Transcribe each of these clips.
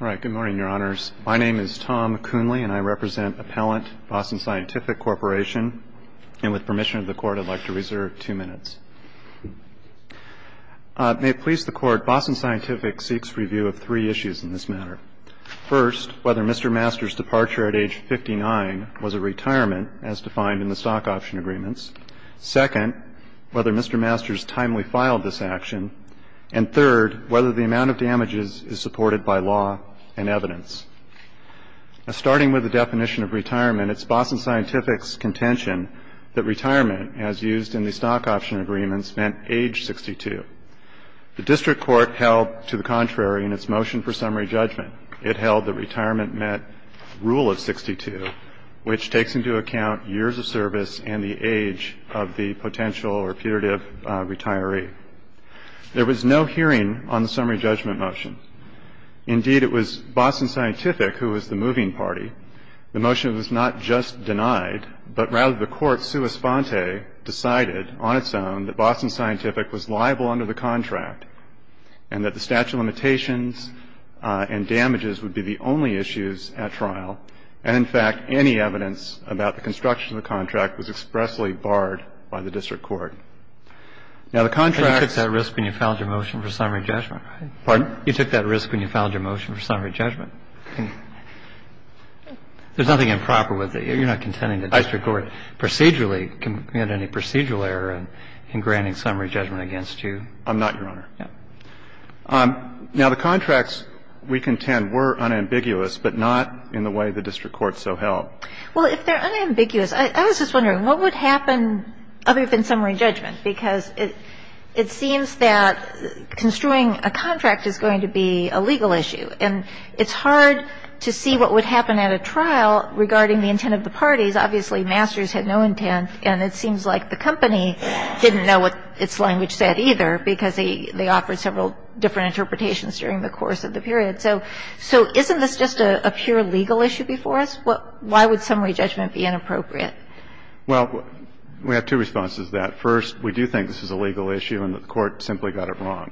All right, good morning, your honors. My name is Tom Coonley, and I represent Appellant Boston Scientific Corporation. And with permission of the court, I'd like to reserve two minutes. May it please the court, Boston Scientific seeks review of three issues in this matter. First, whether Mr. Masters' departure at age 59 was a retirement, as defined in the stock option agreements. Second, whether Mr. Masters timely filed this action. And third, whether the amount of damages is supported by law and evidence. Starting with the definition of retirement, it's Boston Scientific's contention that retirement, as used in the stock option agreements, meant age 62. The district court held to the contrary in its motion for summary judgment. It held that retirement meant rule of 62, which takes into account years of service and the age of the potential or putative retiree. There was no hearing on the summary judgment motion. Indeed, it was Boston Scientific who was the moving party. The motion was not just denied, but rather the court, sua sponte, decided on its own that Boston Scientific was liable under the contract, and that the statute of limitations and damages would be the only issues at trial. And in fact, any evidence about the construction of the contract was expressly barred by the district court. Now, the contract — But you took that risk when you filed your motion for summary judgment, right? Pardon? You took that risk when you filed your motion for summary judgment. There's nothing improper with it. You're not contending the district court procedurally committed any procedural error in granting summary judgment against you. I'm not, Your Honor. Yeah. Now, the contracts we contend were unambiguous, but not in the way the district court so held. Well, if they're unambiguous, I was just wondering, what would happen other than summary judgment, because it seems that construing a contract is going to be a legal issue, and it's hard to see what would happen at a trial regarding the intent of the parties. Obviously, Masters had no intent, and it seems like the company didn't know what its language said either, because they offered several different interpretations during the course of the period. So isn't this just a pure legal issue before us? Why would summary judgment be inappropriate? Well, we have two responses to that. First, we do think this is a legal issue and that the Court simply got it wrong.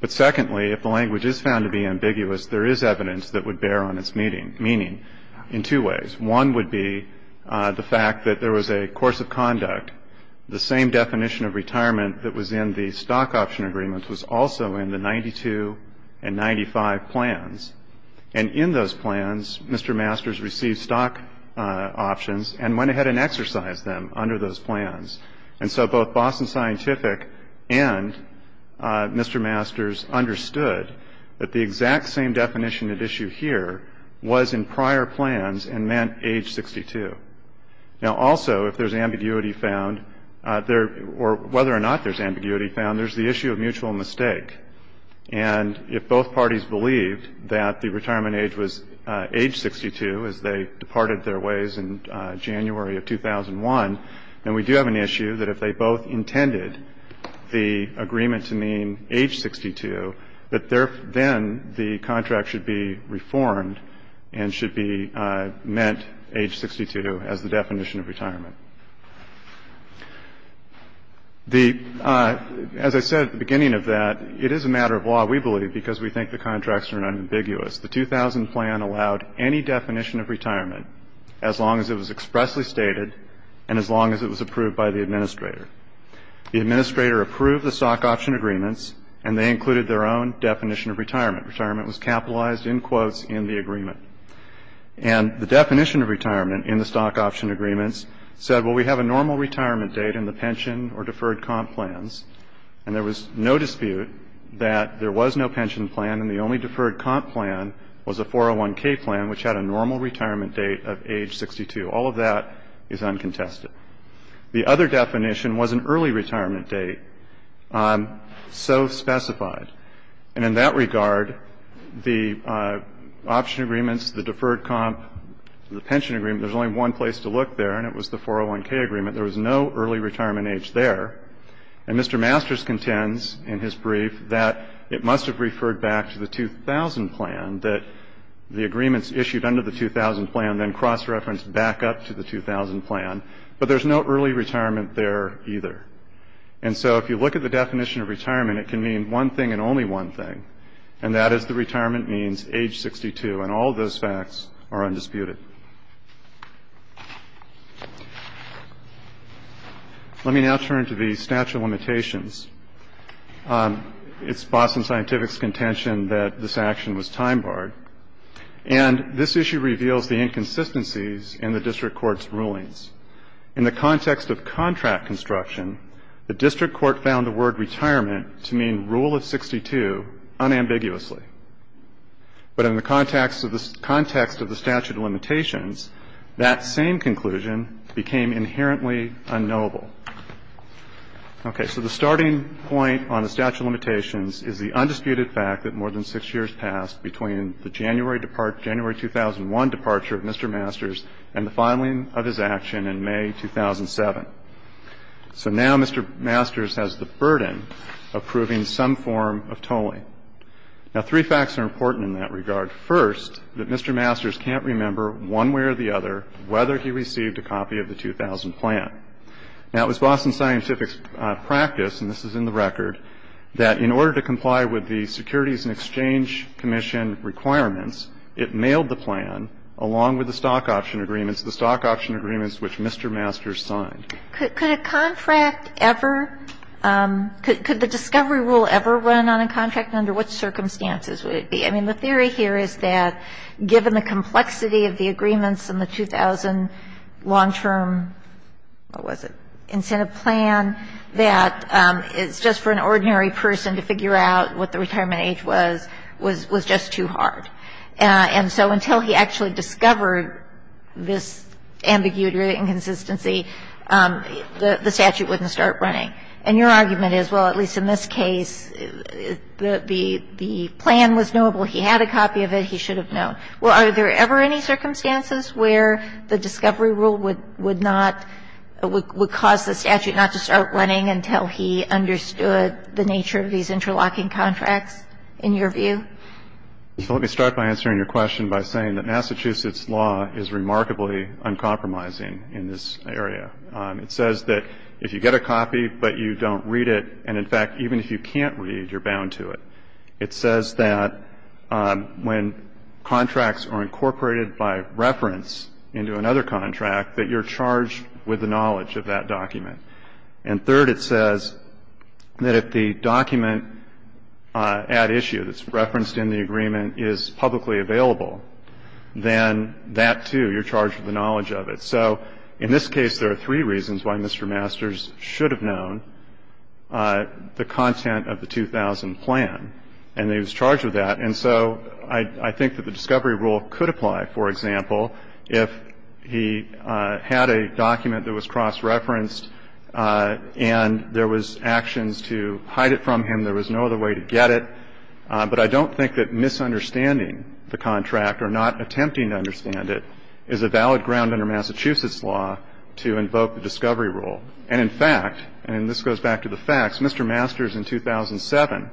But secondly, if the language is found to be ambiguous, there is evidence that would bear on its meaning in two ways. One would be the fact that there was a course of conduct. The same definition of retirement that was in the stock option agreement was also in the 92 and 95 plans. And in those plans, Mr. Masters received stock options and went ahead and exercised them under those plans. And so both Boston Scientific and Mr. Masters understood that the exact same definition at issue here was in prior plans and meant age 62. Now, also, if there's ambiguity found, or whether or not there's ambiguity found, there's the issue of mutual mistake. And if both parties believed that the retirement age was age 62 as they departed their ways in January of 2001, then we do have an issue that if they both intended the agreement to mean age 62, that then the contract should be reformed and should be meant age 62 as the definition of retirement. The, as I said at the beginning of that, it is a matter of law, we believe, because we think the contracts are unambiguous. The 2000 plan allowed any definition of retirement as long as it was expressly stated and as long as it was approved by the administrator. The administrator approved the stock option agreements, and they included their own definition of retirement. Retirement was capitalized, in quotes, in the agreement. And the definition of retirement in the stock option agreements said, well, we have a normal retirement date in the pension or deferred comp plans, and there was no dispute that there was no pension plan and the only deferred comp plan was a 401K plan, which had a normal retirement date of age 62. All of that is uncontested. The other definition was an early retirement date, so specified. And in that regard, the option agreements, the deferred comp, the pension agreement, there's only one place to look there, and it was the 401K agreement. There was no early retirement age there. And Mr. Masters contends in his brief that it must have referred back to the 2000 plan, that the agreements issued under the 2000 plan then cross-referenced back up to the 2000 plan, but there's no early retirement there either. And so if you look at the definition of retirement, it can mean one thing and only one thing, and that is the retirement means age 62, and all those facts are undisputed. Let me now turn to the statute of limitations. It's Boston Scientific's contention that this action was time-barred, and this issue reveals the inconsistencies in the district court's rulings. In the context of contract construction, the district court found the word retirement to mean rule of 62 unambiguously. But in the context of the statute of limitations, that same conclusion became inherently unknowable. Okay, so the starting point on the statute of limitations is the undisputed fact that more than six years passed between the January 2001 departure of Mr. Masters and the filing of his action in May 2007. So now Mr. Masters has the burden of proving some form of tolling. Now three facts are important in that regard. First, that Mr. Masters can't remember one way or the other whether he received a copy of the 2000 plan. Now it was Boston Scientific's practice, and this is in the record, that in order to comply with the Securities and Exchange Commission requirements, it mailed the plan, along with the stock option agreements, the stock option agreements which Mr. Masters signed. Could a contract ever – could the discovery rule ever run on a contract? Under what circumstances would it be? I mean, the theory here is that given the complexity of the agreements in the 2000 long-term – what was it – incentive plan, that it's just for an ordinary person to figure out what the retirement age was was just too hard. And so until he actually discovered this ambiguity or inconsistency, the statute wouldn't start running. And your argument is, well, at least in this case, the plan was knowable. He had a copy of it. He should have known. Well, are there ever any circumstances where the discovery rule would not – would cause the statute not to start running until he understood the nature of these interlocking contracts, in your view? So let me start by answering your question by saying that Massachusetts law is remarkably uncompromising in this area. It says that if you get a copy but you don't read it, and in fact, even if you can't read, you're bound to it. It says that when contracts are incorporated by reference into another contract, that you're charged with the knowledge of that document. And third, it says that if the document at issue that's referenced in the agreement is publicly available, then that, too, you're charged with the knowledge of it. So in this case, there are three reasons why Mr. Masters should have known the content of the 2000 plan, and he was charged with that. And so I think that the discovery rule could apply, for example, if he had a discovery rule, and there was actions to hide it from him, there was no other way to get it, but I don't think that misunderstanding the contract or not attempting to understand it is a valid ground under Massachusetts law to invoke the discovery rule. And in fact, and this goes back to the facts, Mr. Masters in 2007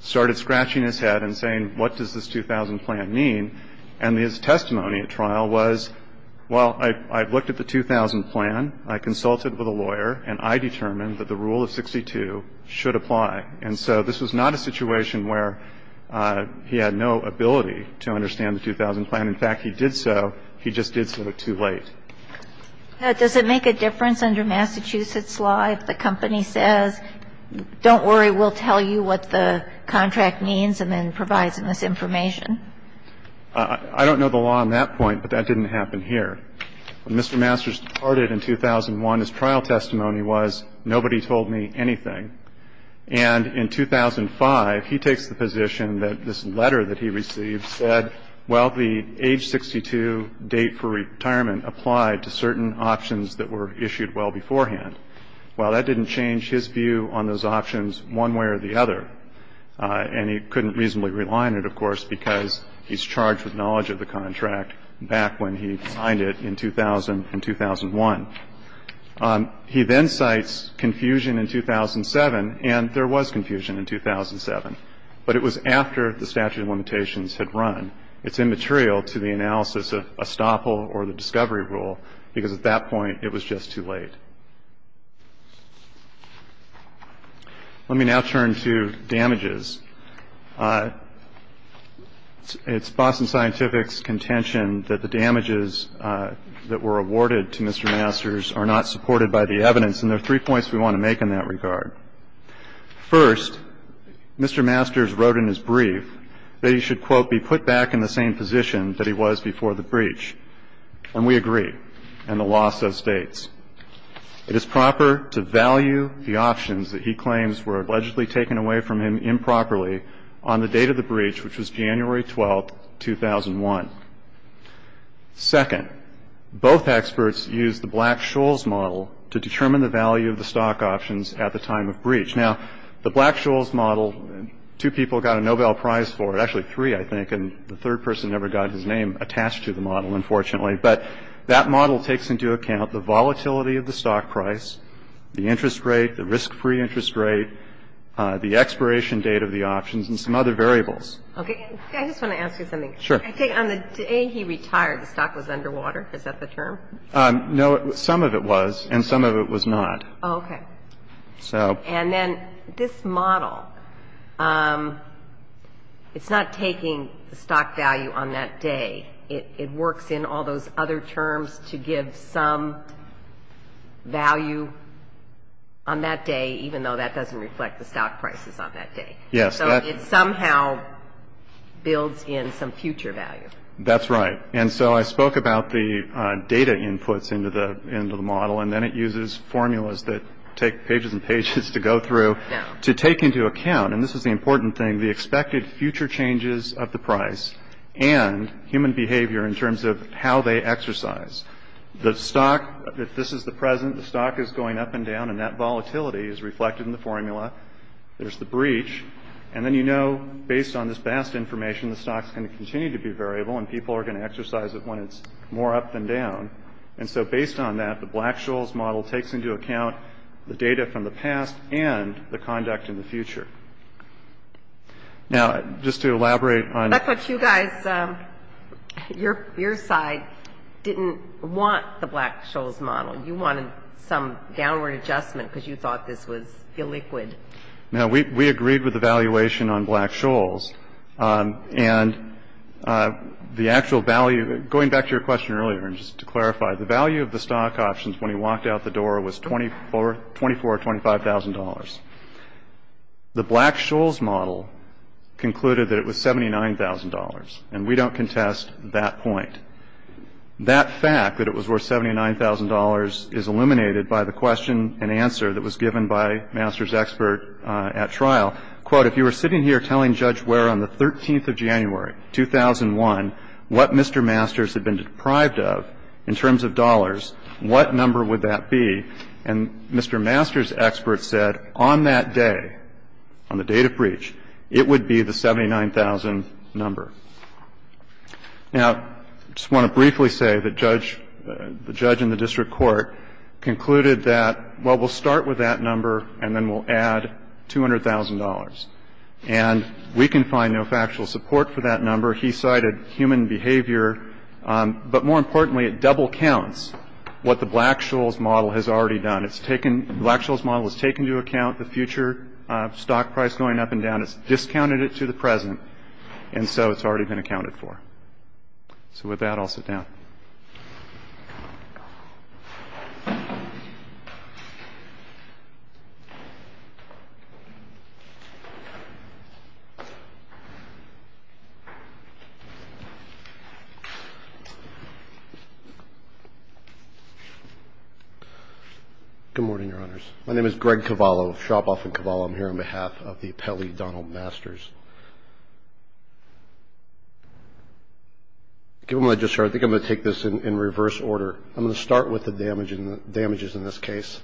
started scratching his head and saying, what does this 2000 plan mean? And his testimony at trial was, well, I looked at the 2000 plan, I consulted with a lawyer, and I determined that the rule of 62 should apply. And so this was not a situation where he had no ability to understand the 2000 plan. In fact, he did so, he just did so too late. Does it make a difference under Massachusetts law if the company says, don't worry, we'll tell you what the contract means and then provide some misinformation? I don't know the law on that point, but that didn't happen here. When Mr. Masters departed in 2001, his trial testimony was, nobody told me anything. And in 2005, he takes the position that this letter that he received said, well, the age 62 date for retirement applied to certain options that were issued well beforehand. Well, that didn't change his view on those options one way or the other. And he couldn't reasonably rely on it, of course, because he's charged with knowledge of the contract back when he signed it in 2000 and 2001. He then cites confusion in 2007, and there was confusion in 2007. But it was after the statute of limitations had run. It's immaterial to the analysis of estoppel or the discovery rule, because at that point, it was just too late. Let me now turn to damages. It's Boston Scientific's contention that the damages that were awarded to Mr. Masters are not supported by the evidence, and there are three points we want to make in that regard. First, Mr. Masters wrote in his brief that he should, quote, be put back in the same position that he was before the breach. And we agree, and the law so states. It is proper to value the options that he claims were allegedly taken away from him properly on the date of the breach, which was January 12, 2001. Second, both experts used the Black-Scholes model to determine the value of the stock options at the time of breach. Now, the Black-Scholes model, two people got a Nobel Prize for it, actually three, I think, and the third person never got his name attached to the model, unfortunately. But that model takes into account the volatility of the stock price, the interest rate, the expiration date of the options, and some other variables. Okay. I just want to ask you something. Sure. I think on the day he retired, the stock was underwater. Is that the term? No. Some of it was, and some of it was not. Oh, okay. And then this model, it's not taking the stock value on that day. It works in all those other terms to give some value on that day, even though that doesn't reflect the stock prices on that day. Yes. So it somehow builds in some future value. That's right. And so I spoke about the data inputs into the model, and then it uses formulas that take pages and pages to go through to take into account, and this is the important thing, the expected future changes of the price and human behavior in terms of how they exercise. The stock, if this is the present, the stock is going up and down, and that volatility is reflected in the formula. There's the breach. And then you know, based on this vast information, the stock's going to continue to be variable, and people are going to exercise it when it's more up than down. And so based on that, the Black-Scholes model takes into account the data from the past and the conduct in the future. Now, just to elaborate on... That's what you guys, your side, didn't want the Black-Scholes model. You wanted some downward adjustment because you thought this was illiquid. Now, we agreed with the valuation on Black-Scholes, and the actual value, going back to your question earlier, and just to clarify, the value of the stock options when he was at $25,000, the Black-Scholes model concluded that it was $79,000, and we don't contest that point. That fact that it was worth $79,000 is illuminated by the question and answer that was given by Masters' expert at trial. Quote, if you were sitting here telling Judge Ware on the 13th of January, 2001, what Mr. Masters had been deprived of in terms of dollars, what number would that be? And Mr. Masters' expert said, on that day, on the date of breach, it would be the $79,000 number. Now, I just want to briefly say that the judge in the district court concluded that, well, we'll start with that number and then we'll add $200,000, and we can find no factual support for that number. He cited human behavior, but more importantly, it double counts what the Black-Scholes model has already done. The Black-Scholes model has taken into account the future stock price going up and down. It's discounted it to the present, and so it's already been accounted for. So with that, I'll sit down. Good morning, Your Honors. My name is Greg Cavallo of Shop-Off and Cavallo. I'm here on behalf of the appellee, Donald Masters. I think I'm going to take this in reverse order. I'm going to start with the damages in this case.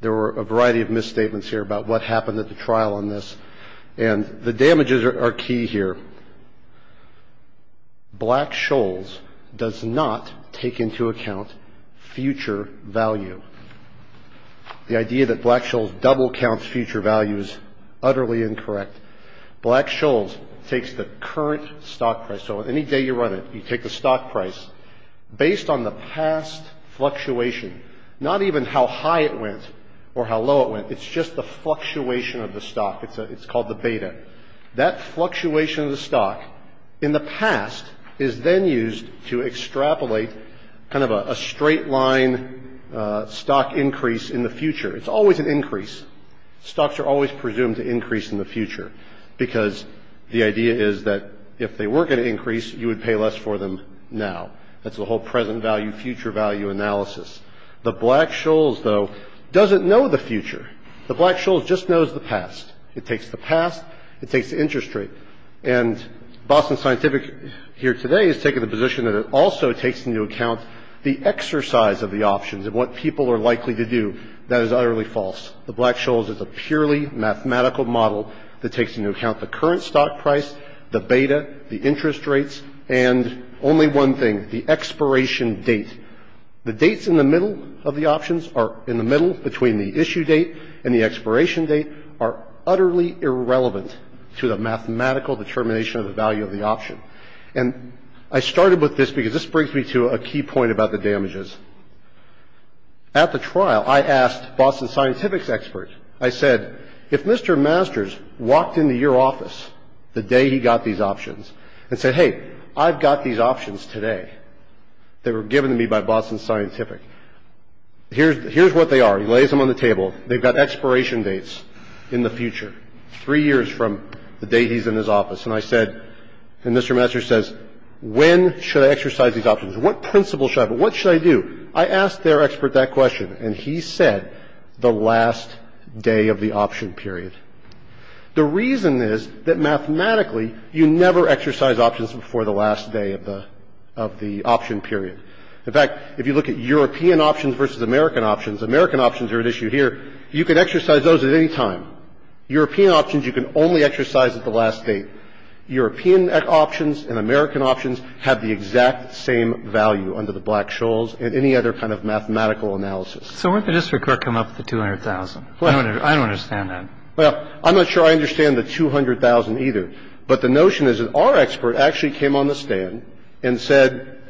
There were a variety of misstatements here about what happened at the trial on this, and the damages are key here. Black-Scholes does not take into account future value. The idea that Black-Scholes double counts future value is utterly incorrect. Black-Scholes takes the current stock price, so any day you run it, you take the stock price, based on the past fluctuation, not even how high it went or how low it went. It's just the fluctuation of the stock. It's called the beta. That fluctuation of the stock in the past is then used to extrapolate kind of a straight-line stock increase in the future. It's always an increase. Stocks are always presumed to increase in the future because the idea is that if they weren't going to increase, you would pay less for them now. That's the whole present value-future value analysis. The Black-Scholes, though, doesn't know the future. The Black-Scholes just knows the past. It takes the past. It takes the interest rate. And Boston Scientific here today has taken the position that it also takes into account the exercise of the options and what people are likely to do. That is utterly false. The Black-Scholes is a purely mathematical model that takes into account the current stock price, the beta, the interest rates, and only one thing, the expiration date. The dates in the middle of the options are in the middle between the issue date and the expiration date are utterly irrelevant to the mathematical determination of the value of the option. And I started with this because this brings me to a key point about the damages. At the trial, I asked Boston Scientific's experts. I said, if Mr. Masters walked into your office the day he got these options and said, hey, I've got these options today that were given to me by Boston Scientific, here's what they are. He lays them on the table. They've got expiration dates in the future, three years from the day he's in his office. And I said, and Mr. Masters says, when should I exercise these options? What principle should I have? What should I do? I asked their expert that question, and he said the last day of the option period. The reason is that mathematically you never exercise options before the last day of the option period. In fact, if you look at European options versus American options, American options are at issue here. You could exercise those at any time. European options you can only exercise at the last date. European options and American options have the exact same value under the Black-Scholes and any other kind of mathematical analysis. So why did Mr. Kirk come up with the 200,000? I don't understand that. Well, I'm not sure I understand the 200,000 either. But the notion is that our expert actually came on the stand and said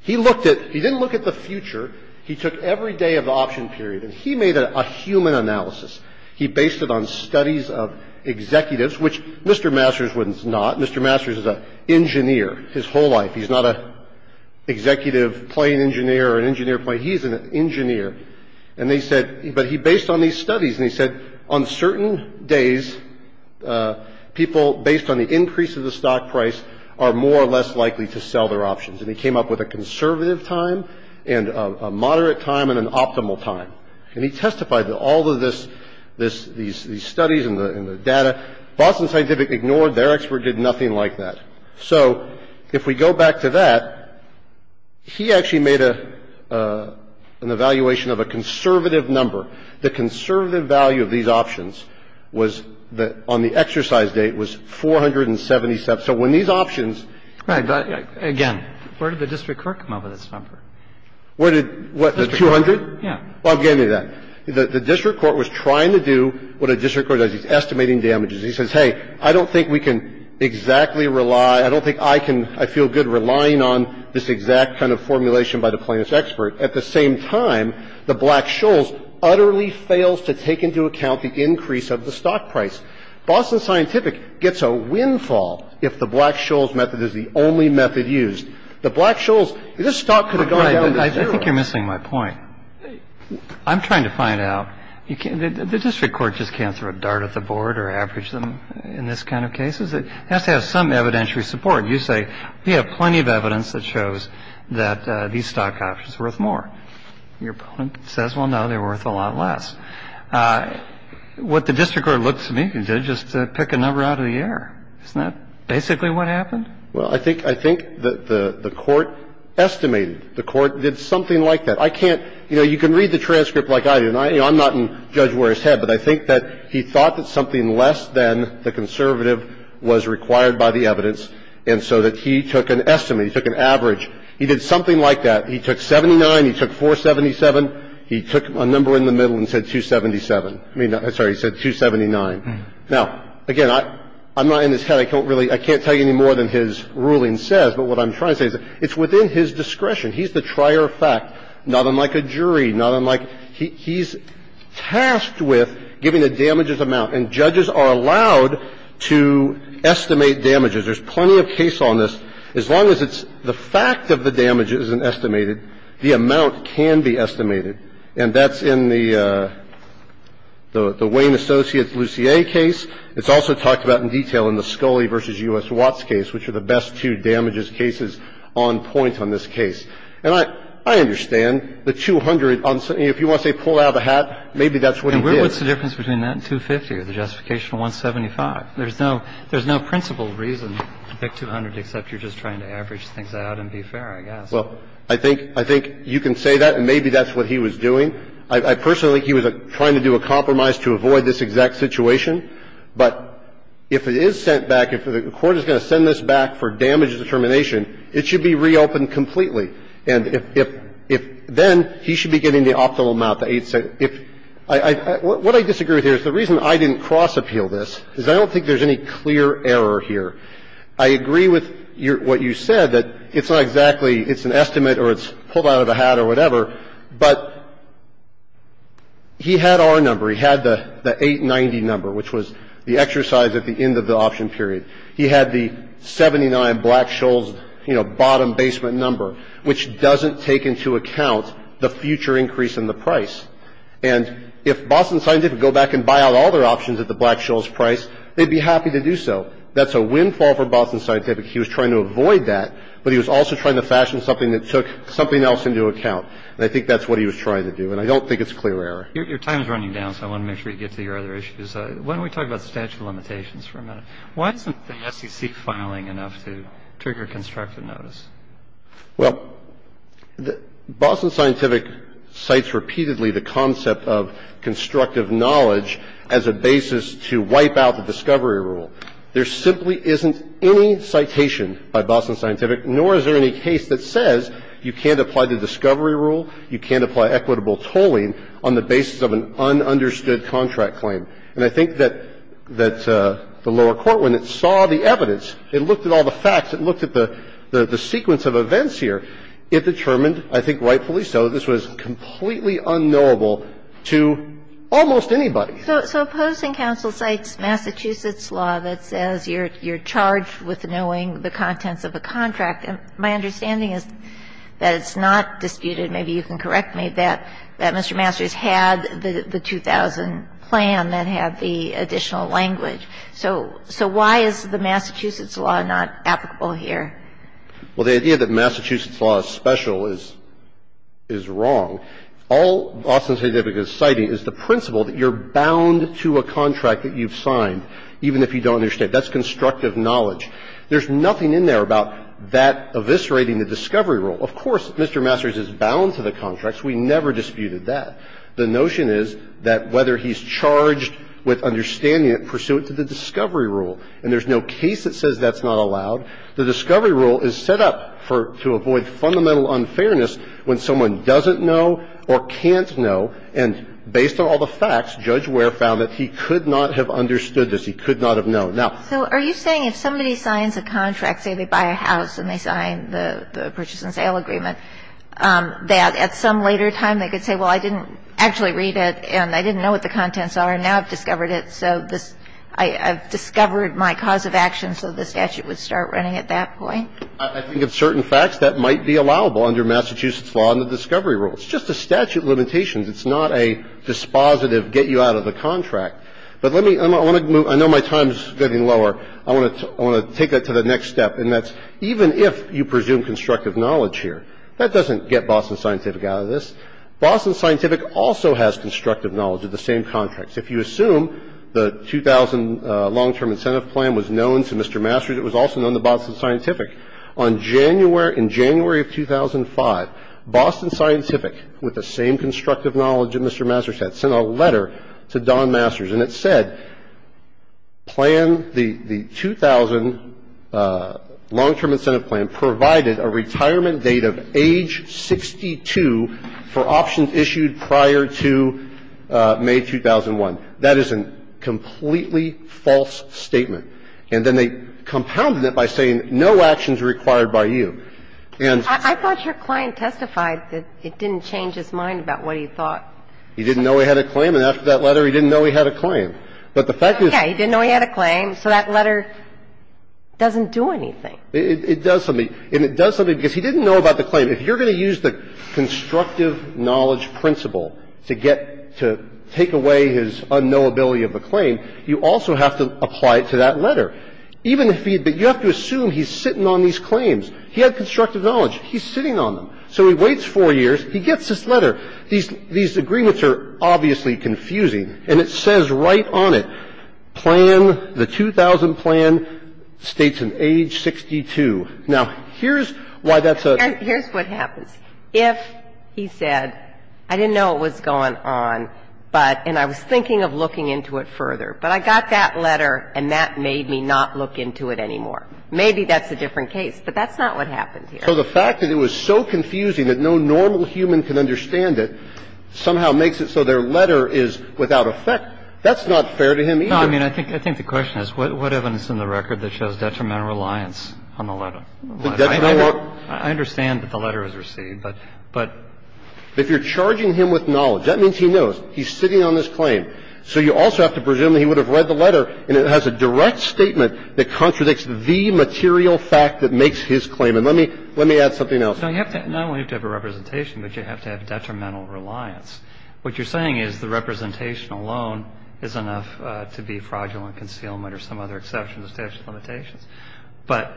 he looked at — he didn't look at the future. He took every day of the option period, and he made a human analysis. He based it on studies of executives, which Mr. Masters was not. Mr. Masters is an engineer his whole life. He's not an executive plane engineer or an engineer plane. He's an engineer. And they said — but he based on these studies, and he said on certain days, people based on the increase of the stock price are more or less likely to sell their options. And he came up with a conservative time and a moderate time and an optimal time. And he testified that all of this — these studies and the data, Boston Scientific ignored. Their expert did nothing like that. So if we go back to that, he actually made an evaluation of a conservative number. The conservative value of these options was that on the exercise date was 477. So when these options — Right. But, again, where did the district court come up with this number? Where did — what, the 200? Yeah. Well, I'll give you that. The district court was trying to do what a district court does. It's estimating damages. It's estimating damages. It says, hey, I don't think we can exactly rely — I don't think I can — I feel good relying on this exact kind of formulation by the plaintiff's expert. At the same time, the Black-Scholes utterly fails to take into account the increase of the stock price. Boston Scientific gets a windfall if the Black-Scholes method is the only method used. The Black-Scholes — this stock could have gone down to zero. I think you're missing my point. I'm trying to find out. You can't — the district court just can't throw a dart at the board or average them in this kind of case. It has to have some evidentiary support. You say we have plenty of evidence that shows that these stock options are worth more. Your opponent says, well, no, they're worth a lot less. What the district court looks to me to do is just pick a number out of the air. Isn't that basically what happened? Well, I think — I think the court estimated. The court did something like that. I can't — you know, you can read the transcript like I did, and I'm not in Judge Ware's head, but I think that he thought that something less than the conservative was required by the evidence, and so that he took an estimate. He took an average. He did something like that. He took 79. He took 477. He took a number in the middle and said 277. I mean — I'm sorry. He said 279. Now, again, I'm not in his head. I can't really — I can't tell you any more than his ruling says, but what I'm trying to say is it's within his discretion. He's the trier of fact, not unlike a jury, not unlike — he's tasked with giving a damages amount, and judges are allowed to estimate damages. There's plenty of case on this. As long as it's — the fact of the damage isn't estimated, the amount can be estimated. And that's in the Wayne Associates-Lussier case. It's also talked about in detail in the Scully v. U.S. Watts case, which are the best two damages cases on point on this case. And I understand the 200. If you want to say pull out of the hat, maybe that's what he did. And what's the difference between that and 250 or the justification of 175? There's no — there's no principled reason to pick 200 except you're just trying to average things out and be fair, I guess. Well, I think — I think you can say that, and maybe that's what he was doing. I personally think he was trying to do a compromise to avoid this exact situation. But if it is sent back, if the court is going to send this back for damage determination, it should be reopened completely. And if — if then he should be getting the optimal amount, the 870. If — what I disagree with here is the reason I didn't cross-appeal this is I don't think there's any clear error here. I agree with what you said, that it's not exactly — it's an estimate or it's pulled out of the hat or whatever, but he had our number. He had the 890 number, which was the exercise at the end of the option period. He had the 79 Black-Scholes, you know, bottom basement number, which doesn't take into account the future increase in the price. And if Boston Scientific go back and buy out all their options at the Black-Scholes price, they'd be happy to do so. That's a windfall for Boston Scientific. He was trying to avoid that, but he was also trying to fashion something that took something else into account. And I think that's what he was trying to do. And I don't think it's clear error. Your time is running down, so I want to make sure you get to your other issues. Why don't we talk about statute of limitations for a minute? Why isn't the SEC filing enough to trigger constructive notice? Well, Boston Scientific cites repeatedly the concept of constructive knowledge as a basis to wipe out the discovery rule. There simply isn't any citation by Boston Scientific, nor is there any case that says you can't apply the discovery rule, you can't apply equitable tolling on the basis of an ununderstood contract claim. And I think that the lower court, when it saw the evidence, it looked at all the facts, it looked at the sequence of events here, it determined, I think rightfully so, this was completely unknowable to almost anybody. So opposing counsel cites Massachusetts law that says you're charged with knowing the contents of a contract. And my understanding is that it's not disputed, maybe you can correct me, that Mr. Masters had the 2000 plan that had the additional language. So why is the Massachusetts law not applicable here? Well, the idea that Massachusetts law is special is wrong. All Boston Scientific is citing is the principle that you're bound to a contract that you've signed, even if you don't understand. That's constructive knowledge. There's nothing in there about that eviscerating the discovery rule. Of course, Mr. Masters is bound to the contracts. We never disputed that. The notion is that whether he's charged with understanding it pursuant to the discovery rule, and there's no case that says that's not allowed, the discovery rule is set up for to avoid fundamental unfairness when someone doesn't know or can't know, and based on all the facts, Judge Ware found that he could not have understood this, he could not have known. So are you saying if somebody signs a contract, say they buy a house and they sign the purchase and sale agreement, that at some later time they could say, well, I didn't actually read it, and I didn't know what the contents are, and now I've discovered it, so I've discovered my cause of action, so the statute would start running at that point? I think of certain facts that might be allowable under Massachusetts law and the discovery rule. It's just a statute limitation. It's not a dispositive get you out of the contract. But let me – I know my time is getting lower. I want to take that to the next step, and that's even if you presume constructive knowledge here, that doesn't get Boston Scientific out of this. Boston Scientific also has constructive knowledge of the same contracts. If you assume the 2000 long-term incentive plan was known to Mr. Masters, it was also known to Boston Scientific. On January – in January of 2005, Boston Scientific, with the same constructive knowledge that Mr. Masters had, sent a letter to Don Masters, and it said, plan the – the 2000 long-term incentive plan provided a retirement date of age 62 for options issued prior to May 2001. That is a completely false statement. It's a false statement. But it requires that you know what options are required by you. And so – I thought your client testified that it didn't change his mind about what he thought. He didn't know he had a claim and after that letter, he didn't know he had a claim. But the fact is – Yes. He didn't know he had a claim so that letter doesn't do anything. It does something. And it does something because he didn't know about the claim. Even if he – but you have to assume he's sitting on these claims. He had constructive knowledge. He's sitting on them. So he waits four years. He gets this letter. These agreements are obviously confusing. And it says right on it, plan, the 2000 plan, states an age 62. Now, here's why that's a – Here's what happens. If he said, I didn't know it was going on, but – and I was thinking of looking into it further. But I got that letter and that made me not look into it anymore. Maybe that's a different case. But that's not what happens here. So the fact that it was so confusing that no normal human can understand it somehow makes it so their letter is without effect. That's not fair to him either. No. I mean, I think the question is what evidence in the record that shows detrimental reliance on the letter? I understand that the letter was received, but – But if you're charging him with knowledge, that means he knows. He's sitting on this claim. So you also have to presume that he would have read the letter and it has a direct statement that contradicts the material fact that makes his claim. And let me add something else. No, you have to – not only do you have to have a representation, but you have to have detrimental reliance. What you're saying is the representation alone is enough to be fraudulent concealment or some other exception to statute of limitations. But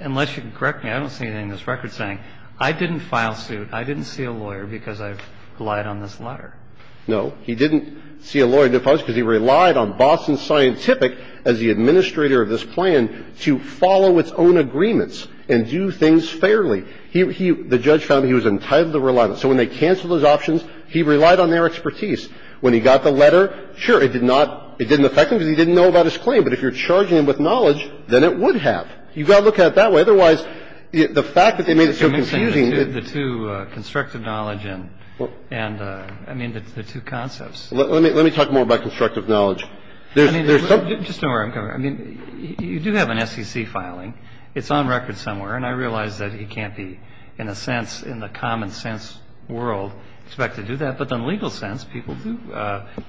unless you can correct me, I don't see anything in this record saying, I didn't file suit, I didn't see a lawyer because I relied on this letter. No. He didn't see a lawyer because he relied on Boston Scientific as the administrator of this plan to follow its own agreements and do things fairly. He – the judge found he was entitled to reliance. So when they canceled those options, he relied on their expertise. When he got the letter, sure, it did not – it didn't affect him because he didn't know about his claim. But if you're charging him with knowledge, then it would have. You've got to look at it that way. Otherwise, the fact that they made it so confusing – The two constructive knowledge and – I mean, the two concepts. Let me talk more about constructive knowledge. I mean, there's some – Just don't worry. I mean, you do have an SEC filing. It's on record somewhere, and I realize that it can't be, in a sense, in the common sense world, expected to do that. But in the legal sense, people do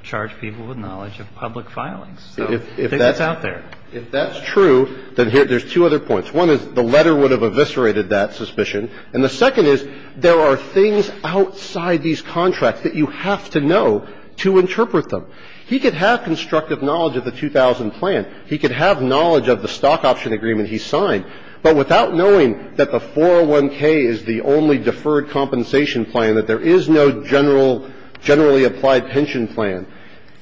charge people with knowledge of public filings. So I think that's out there. If that's true, then there's two other points. One is the letter would have eviscerated that suspicion. And the second is there are things outside these contracts that you have to know to interpret them. He could have constructive knowledge of the 2000 plan. He could have knowledge of the stock option agreement he signed. But without knowing that the 401k is the only deferred compensation plan, that there is no general – generally applied pension plan,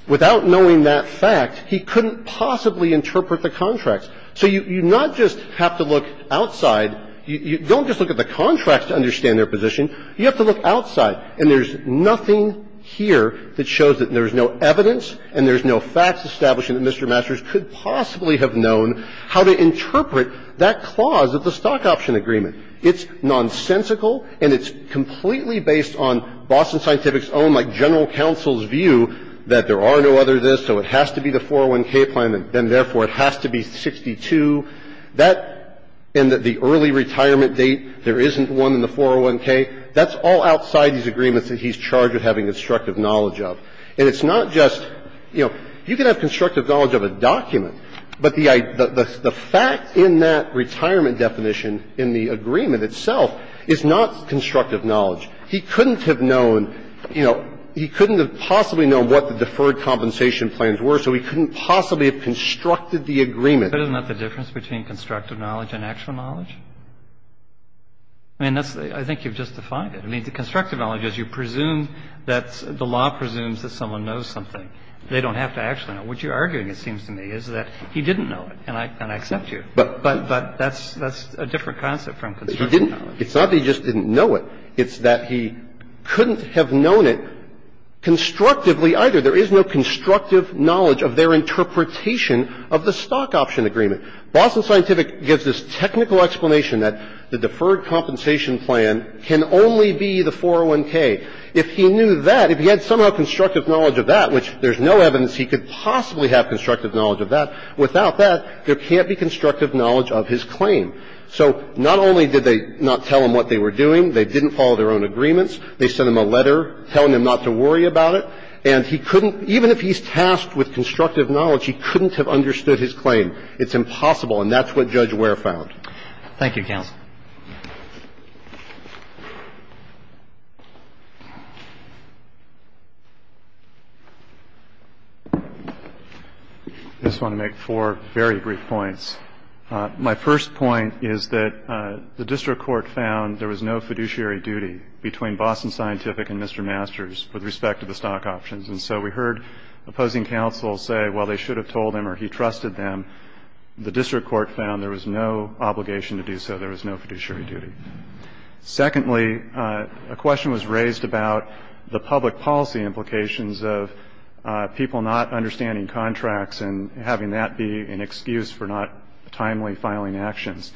without knowing that fact, he couldn't possibly interpret the contracts. So you not just have to look outside – don't just look at the contracts to understand their position. You have to look outside. And there's nothing here that shows that there's no evidence and there's no facts establishing that Mr. Masters could possibly have known how to interpret that clause of the stock option agreement. It's nonsensical, and it's completely based on Boston Scientific's own, like, general counsel's view that there are no other this, so it has to be the 401k plan, and therefore it has to be 62. That – and the early retirement date, there isn't one in the 401k, that's all outside these agreements that he's charged with having constructive knowledge of. And it's not just, you know, you can have constructive knowledge of a document, but the fact in that retirement definition in the agreement itself is not constructive knowledge. He couldn't have known, you know, he couldn't have possibly known what the deferred compensation plans were, so he couldn't possibly have constructed the agreement. But isn't that the difference between constructive knowledge and actual knowledge? I mean, that's the – I think you've just defined it. I mean, the constructive knowledge is you presume that's – the law presumes that someone knows something. They don't have to actually know. What you're arguing, it seems to me, is that he didn't know it, and I accept you. But that's a different concept from constructive knowledge. It's not that he just didn't know it. It's that he couldn't have known it constructively either. There is no constructive knowledge of their interpretation of the stock option agreement. Boston Scientific gives this technical explanation that the deferred compensation plan can only be the 401K. If he knew that, if he had somehow constructive knowledge of that, which there's no evidence he could possibly have constructive knowledge of that, without that, there can't be constructive knowledge of his claim. So not only did they not tell him what they were doing, they didn't follow their own agreements, they sent him a letter telling him not to worry about it, and he couldn't – even if he's tasked with constructive knowledge, he couldn't have understood his claim. It's impossible, and that's what Judge Ware found. Thank you, counsel. I just want to make four very brief points. My first point is that the district court found there was no fiduciary duty between Boston Scientific and Mr. Masters with respect to the stock options. And so we heard opposing counsel say, well, they should have told him or he trusted them. The district court found there was no obligation to do so. There was no fiduciary duty. Secondly, a question was raised about the public policy implications of people not understanding contracts and having that be an excuse for not timely filing actions.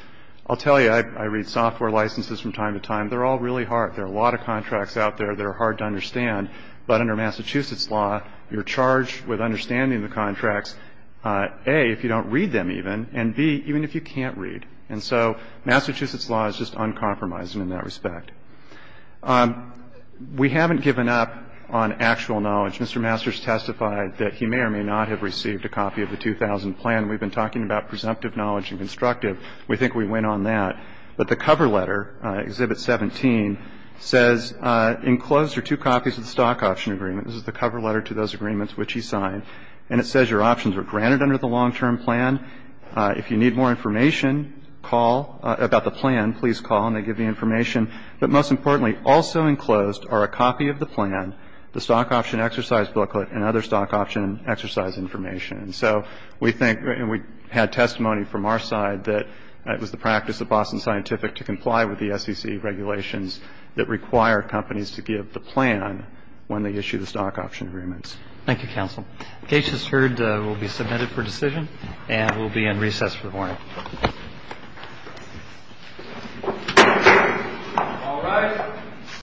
I'll tell you, I read software licenses from time to time. They're all really hard. There are a lot of contracts out there that are hard to understand, but under Massachusetts law, you're charged with understanding the contracts, A, if you don't read them even, and B, even if you can't read. And so Massachusetts law is just uncompromising in that respect. We haven't given up on actual knowledge. Mr. Masters testified that he may or may not have received a copy of the 2000 plan. We've been talking about presumptive knowledge and constructive. We think we went on that. But the cover letter, Exhibit 17, says enclosed are two copies of the stock option agreement. This is the cover letter to those agreements which he signed. And it says your options are granted under the long-term plan. If you need more information about the plan, please call and they give you information. But most importantly, also enclosed are a copy of the plan, the stock option exercise booklet, and other stock option exercise information. And so we think, and we had testimony from our side that it was the practice of Boston Scientific to comply with the SEC regulations that require companies to give the plan when they issue the stock option agreements. Thank you, Counsel. The case is heard, will be submitted for decision, and we'll be in recess for the morning. All rise.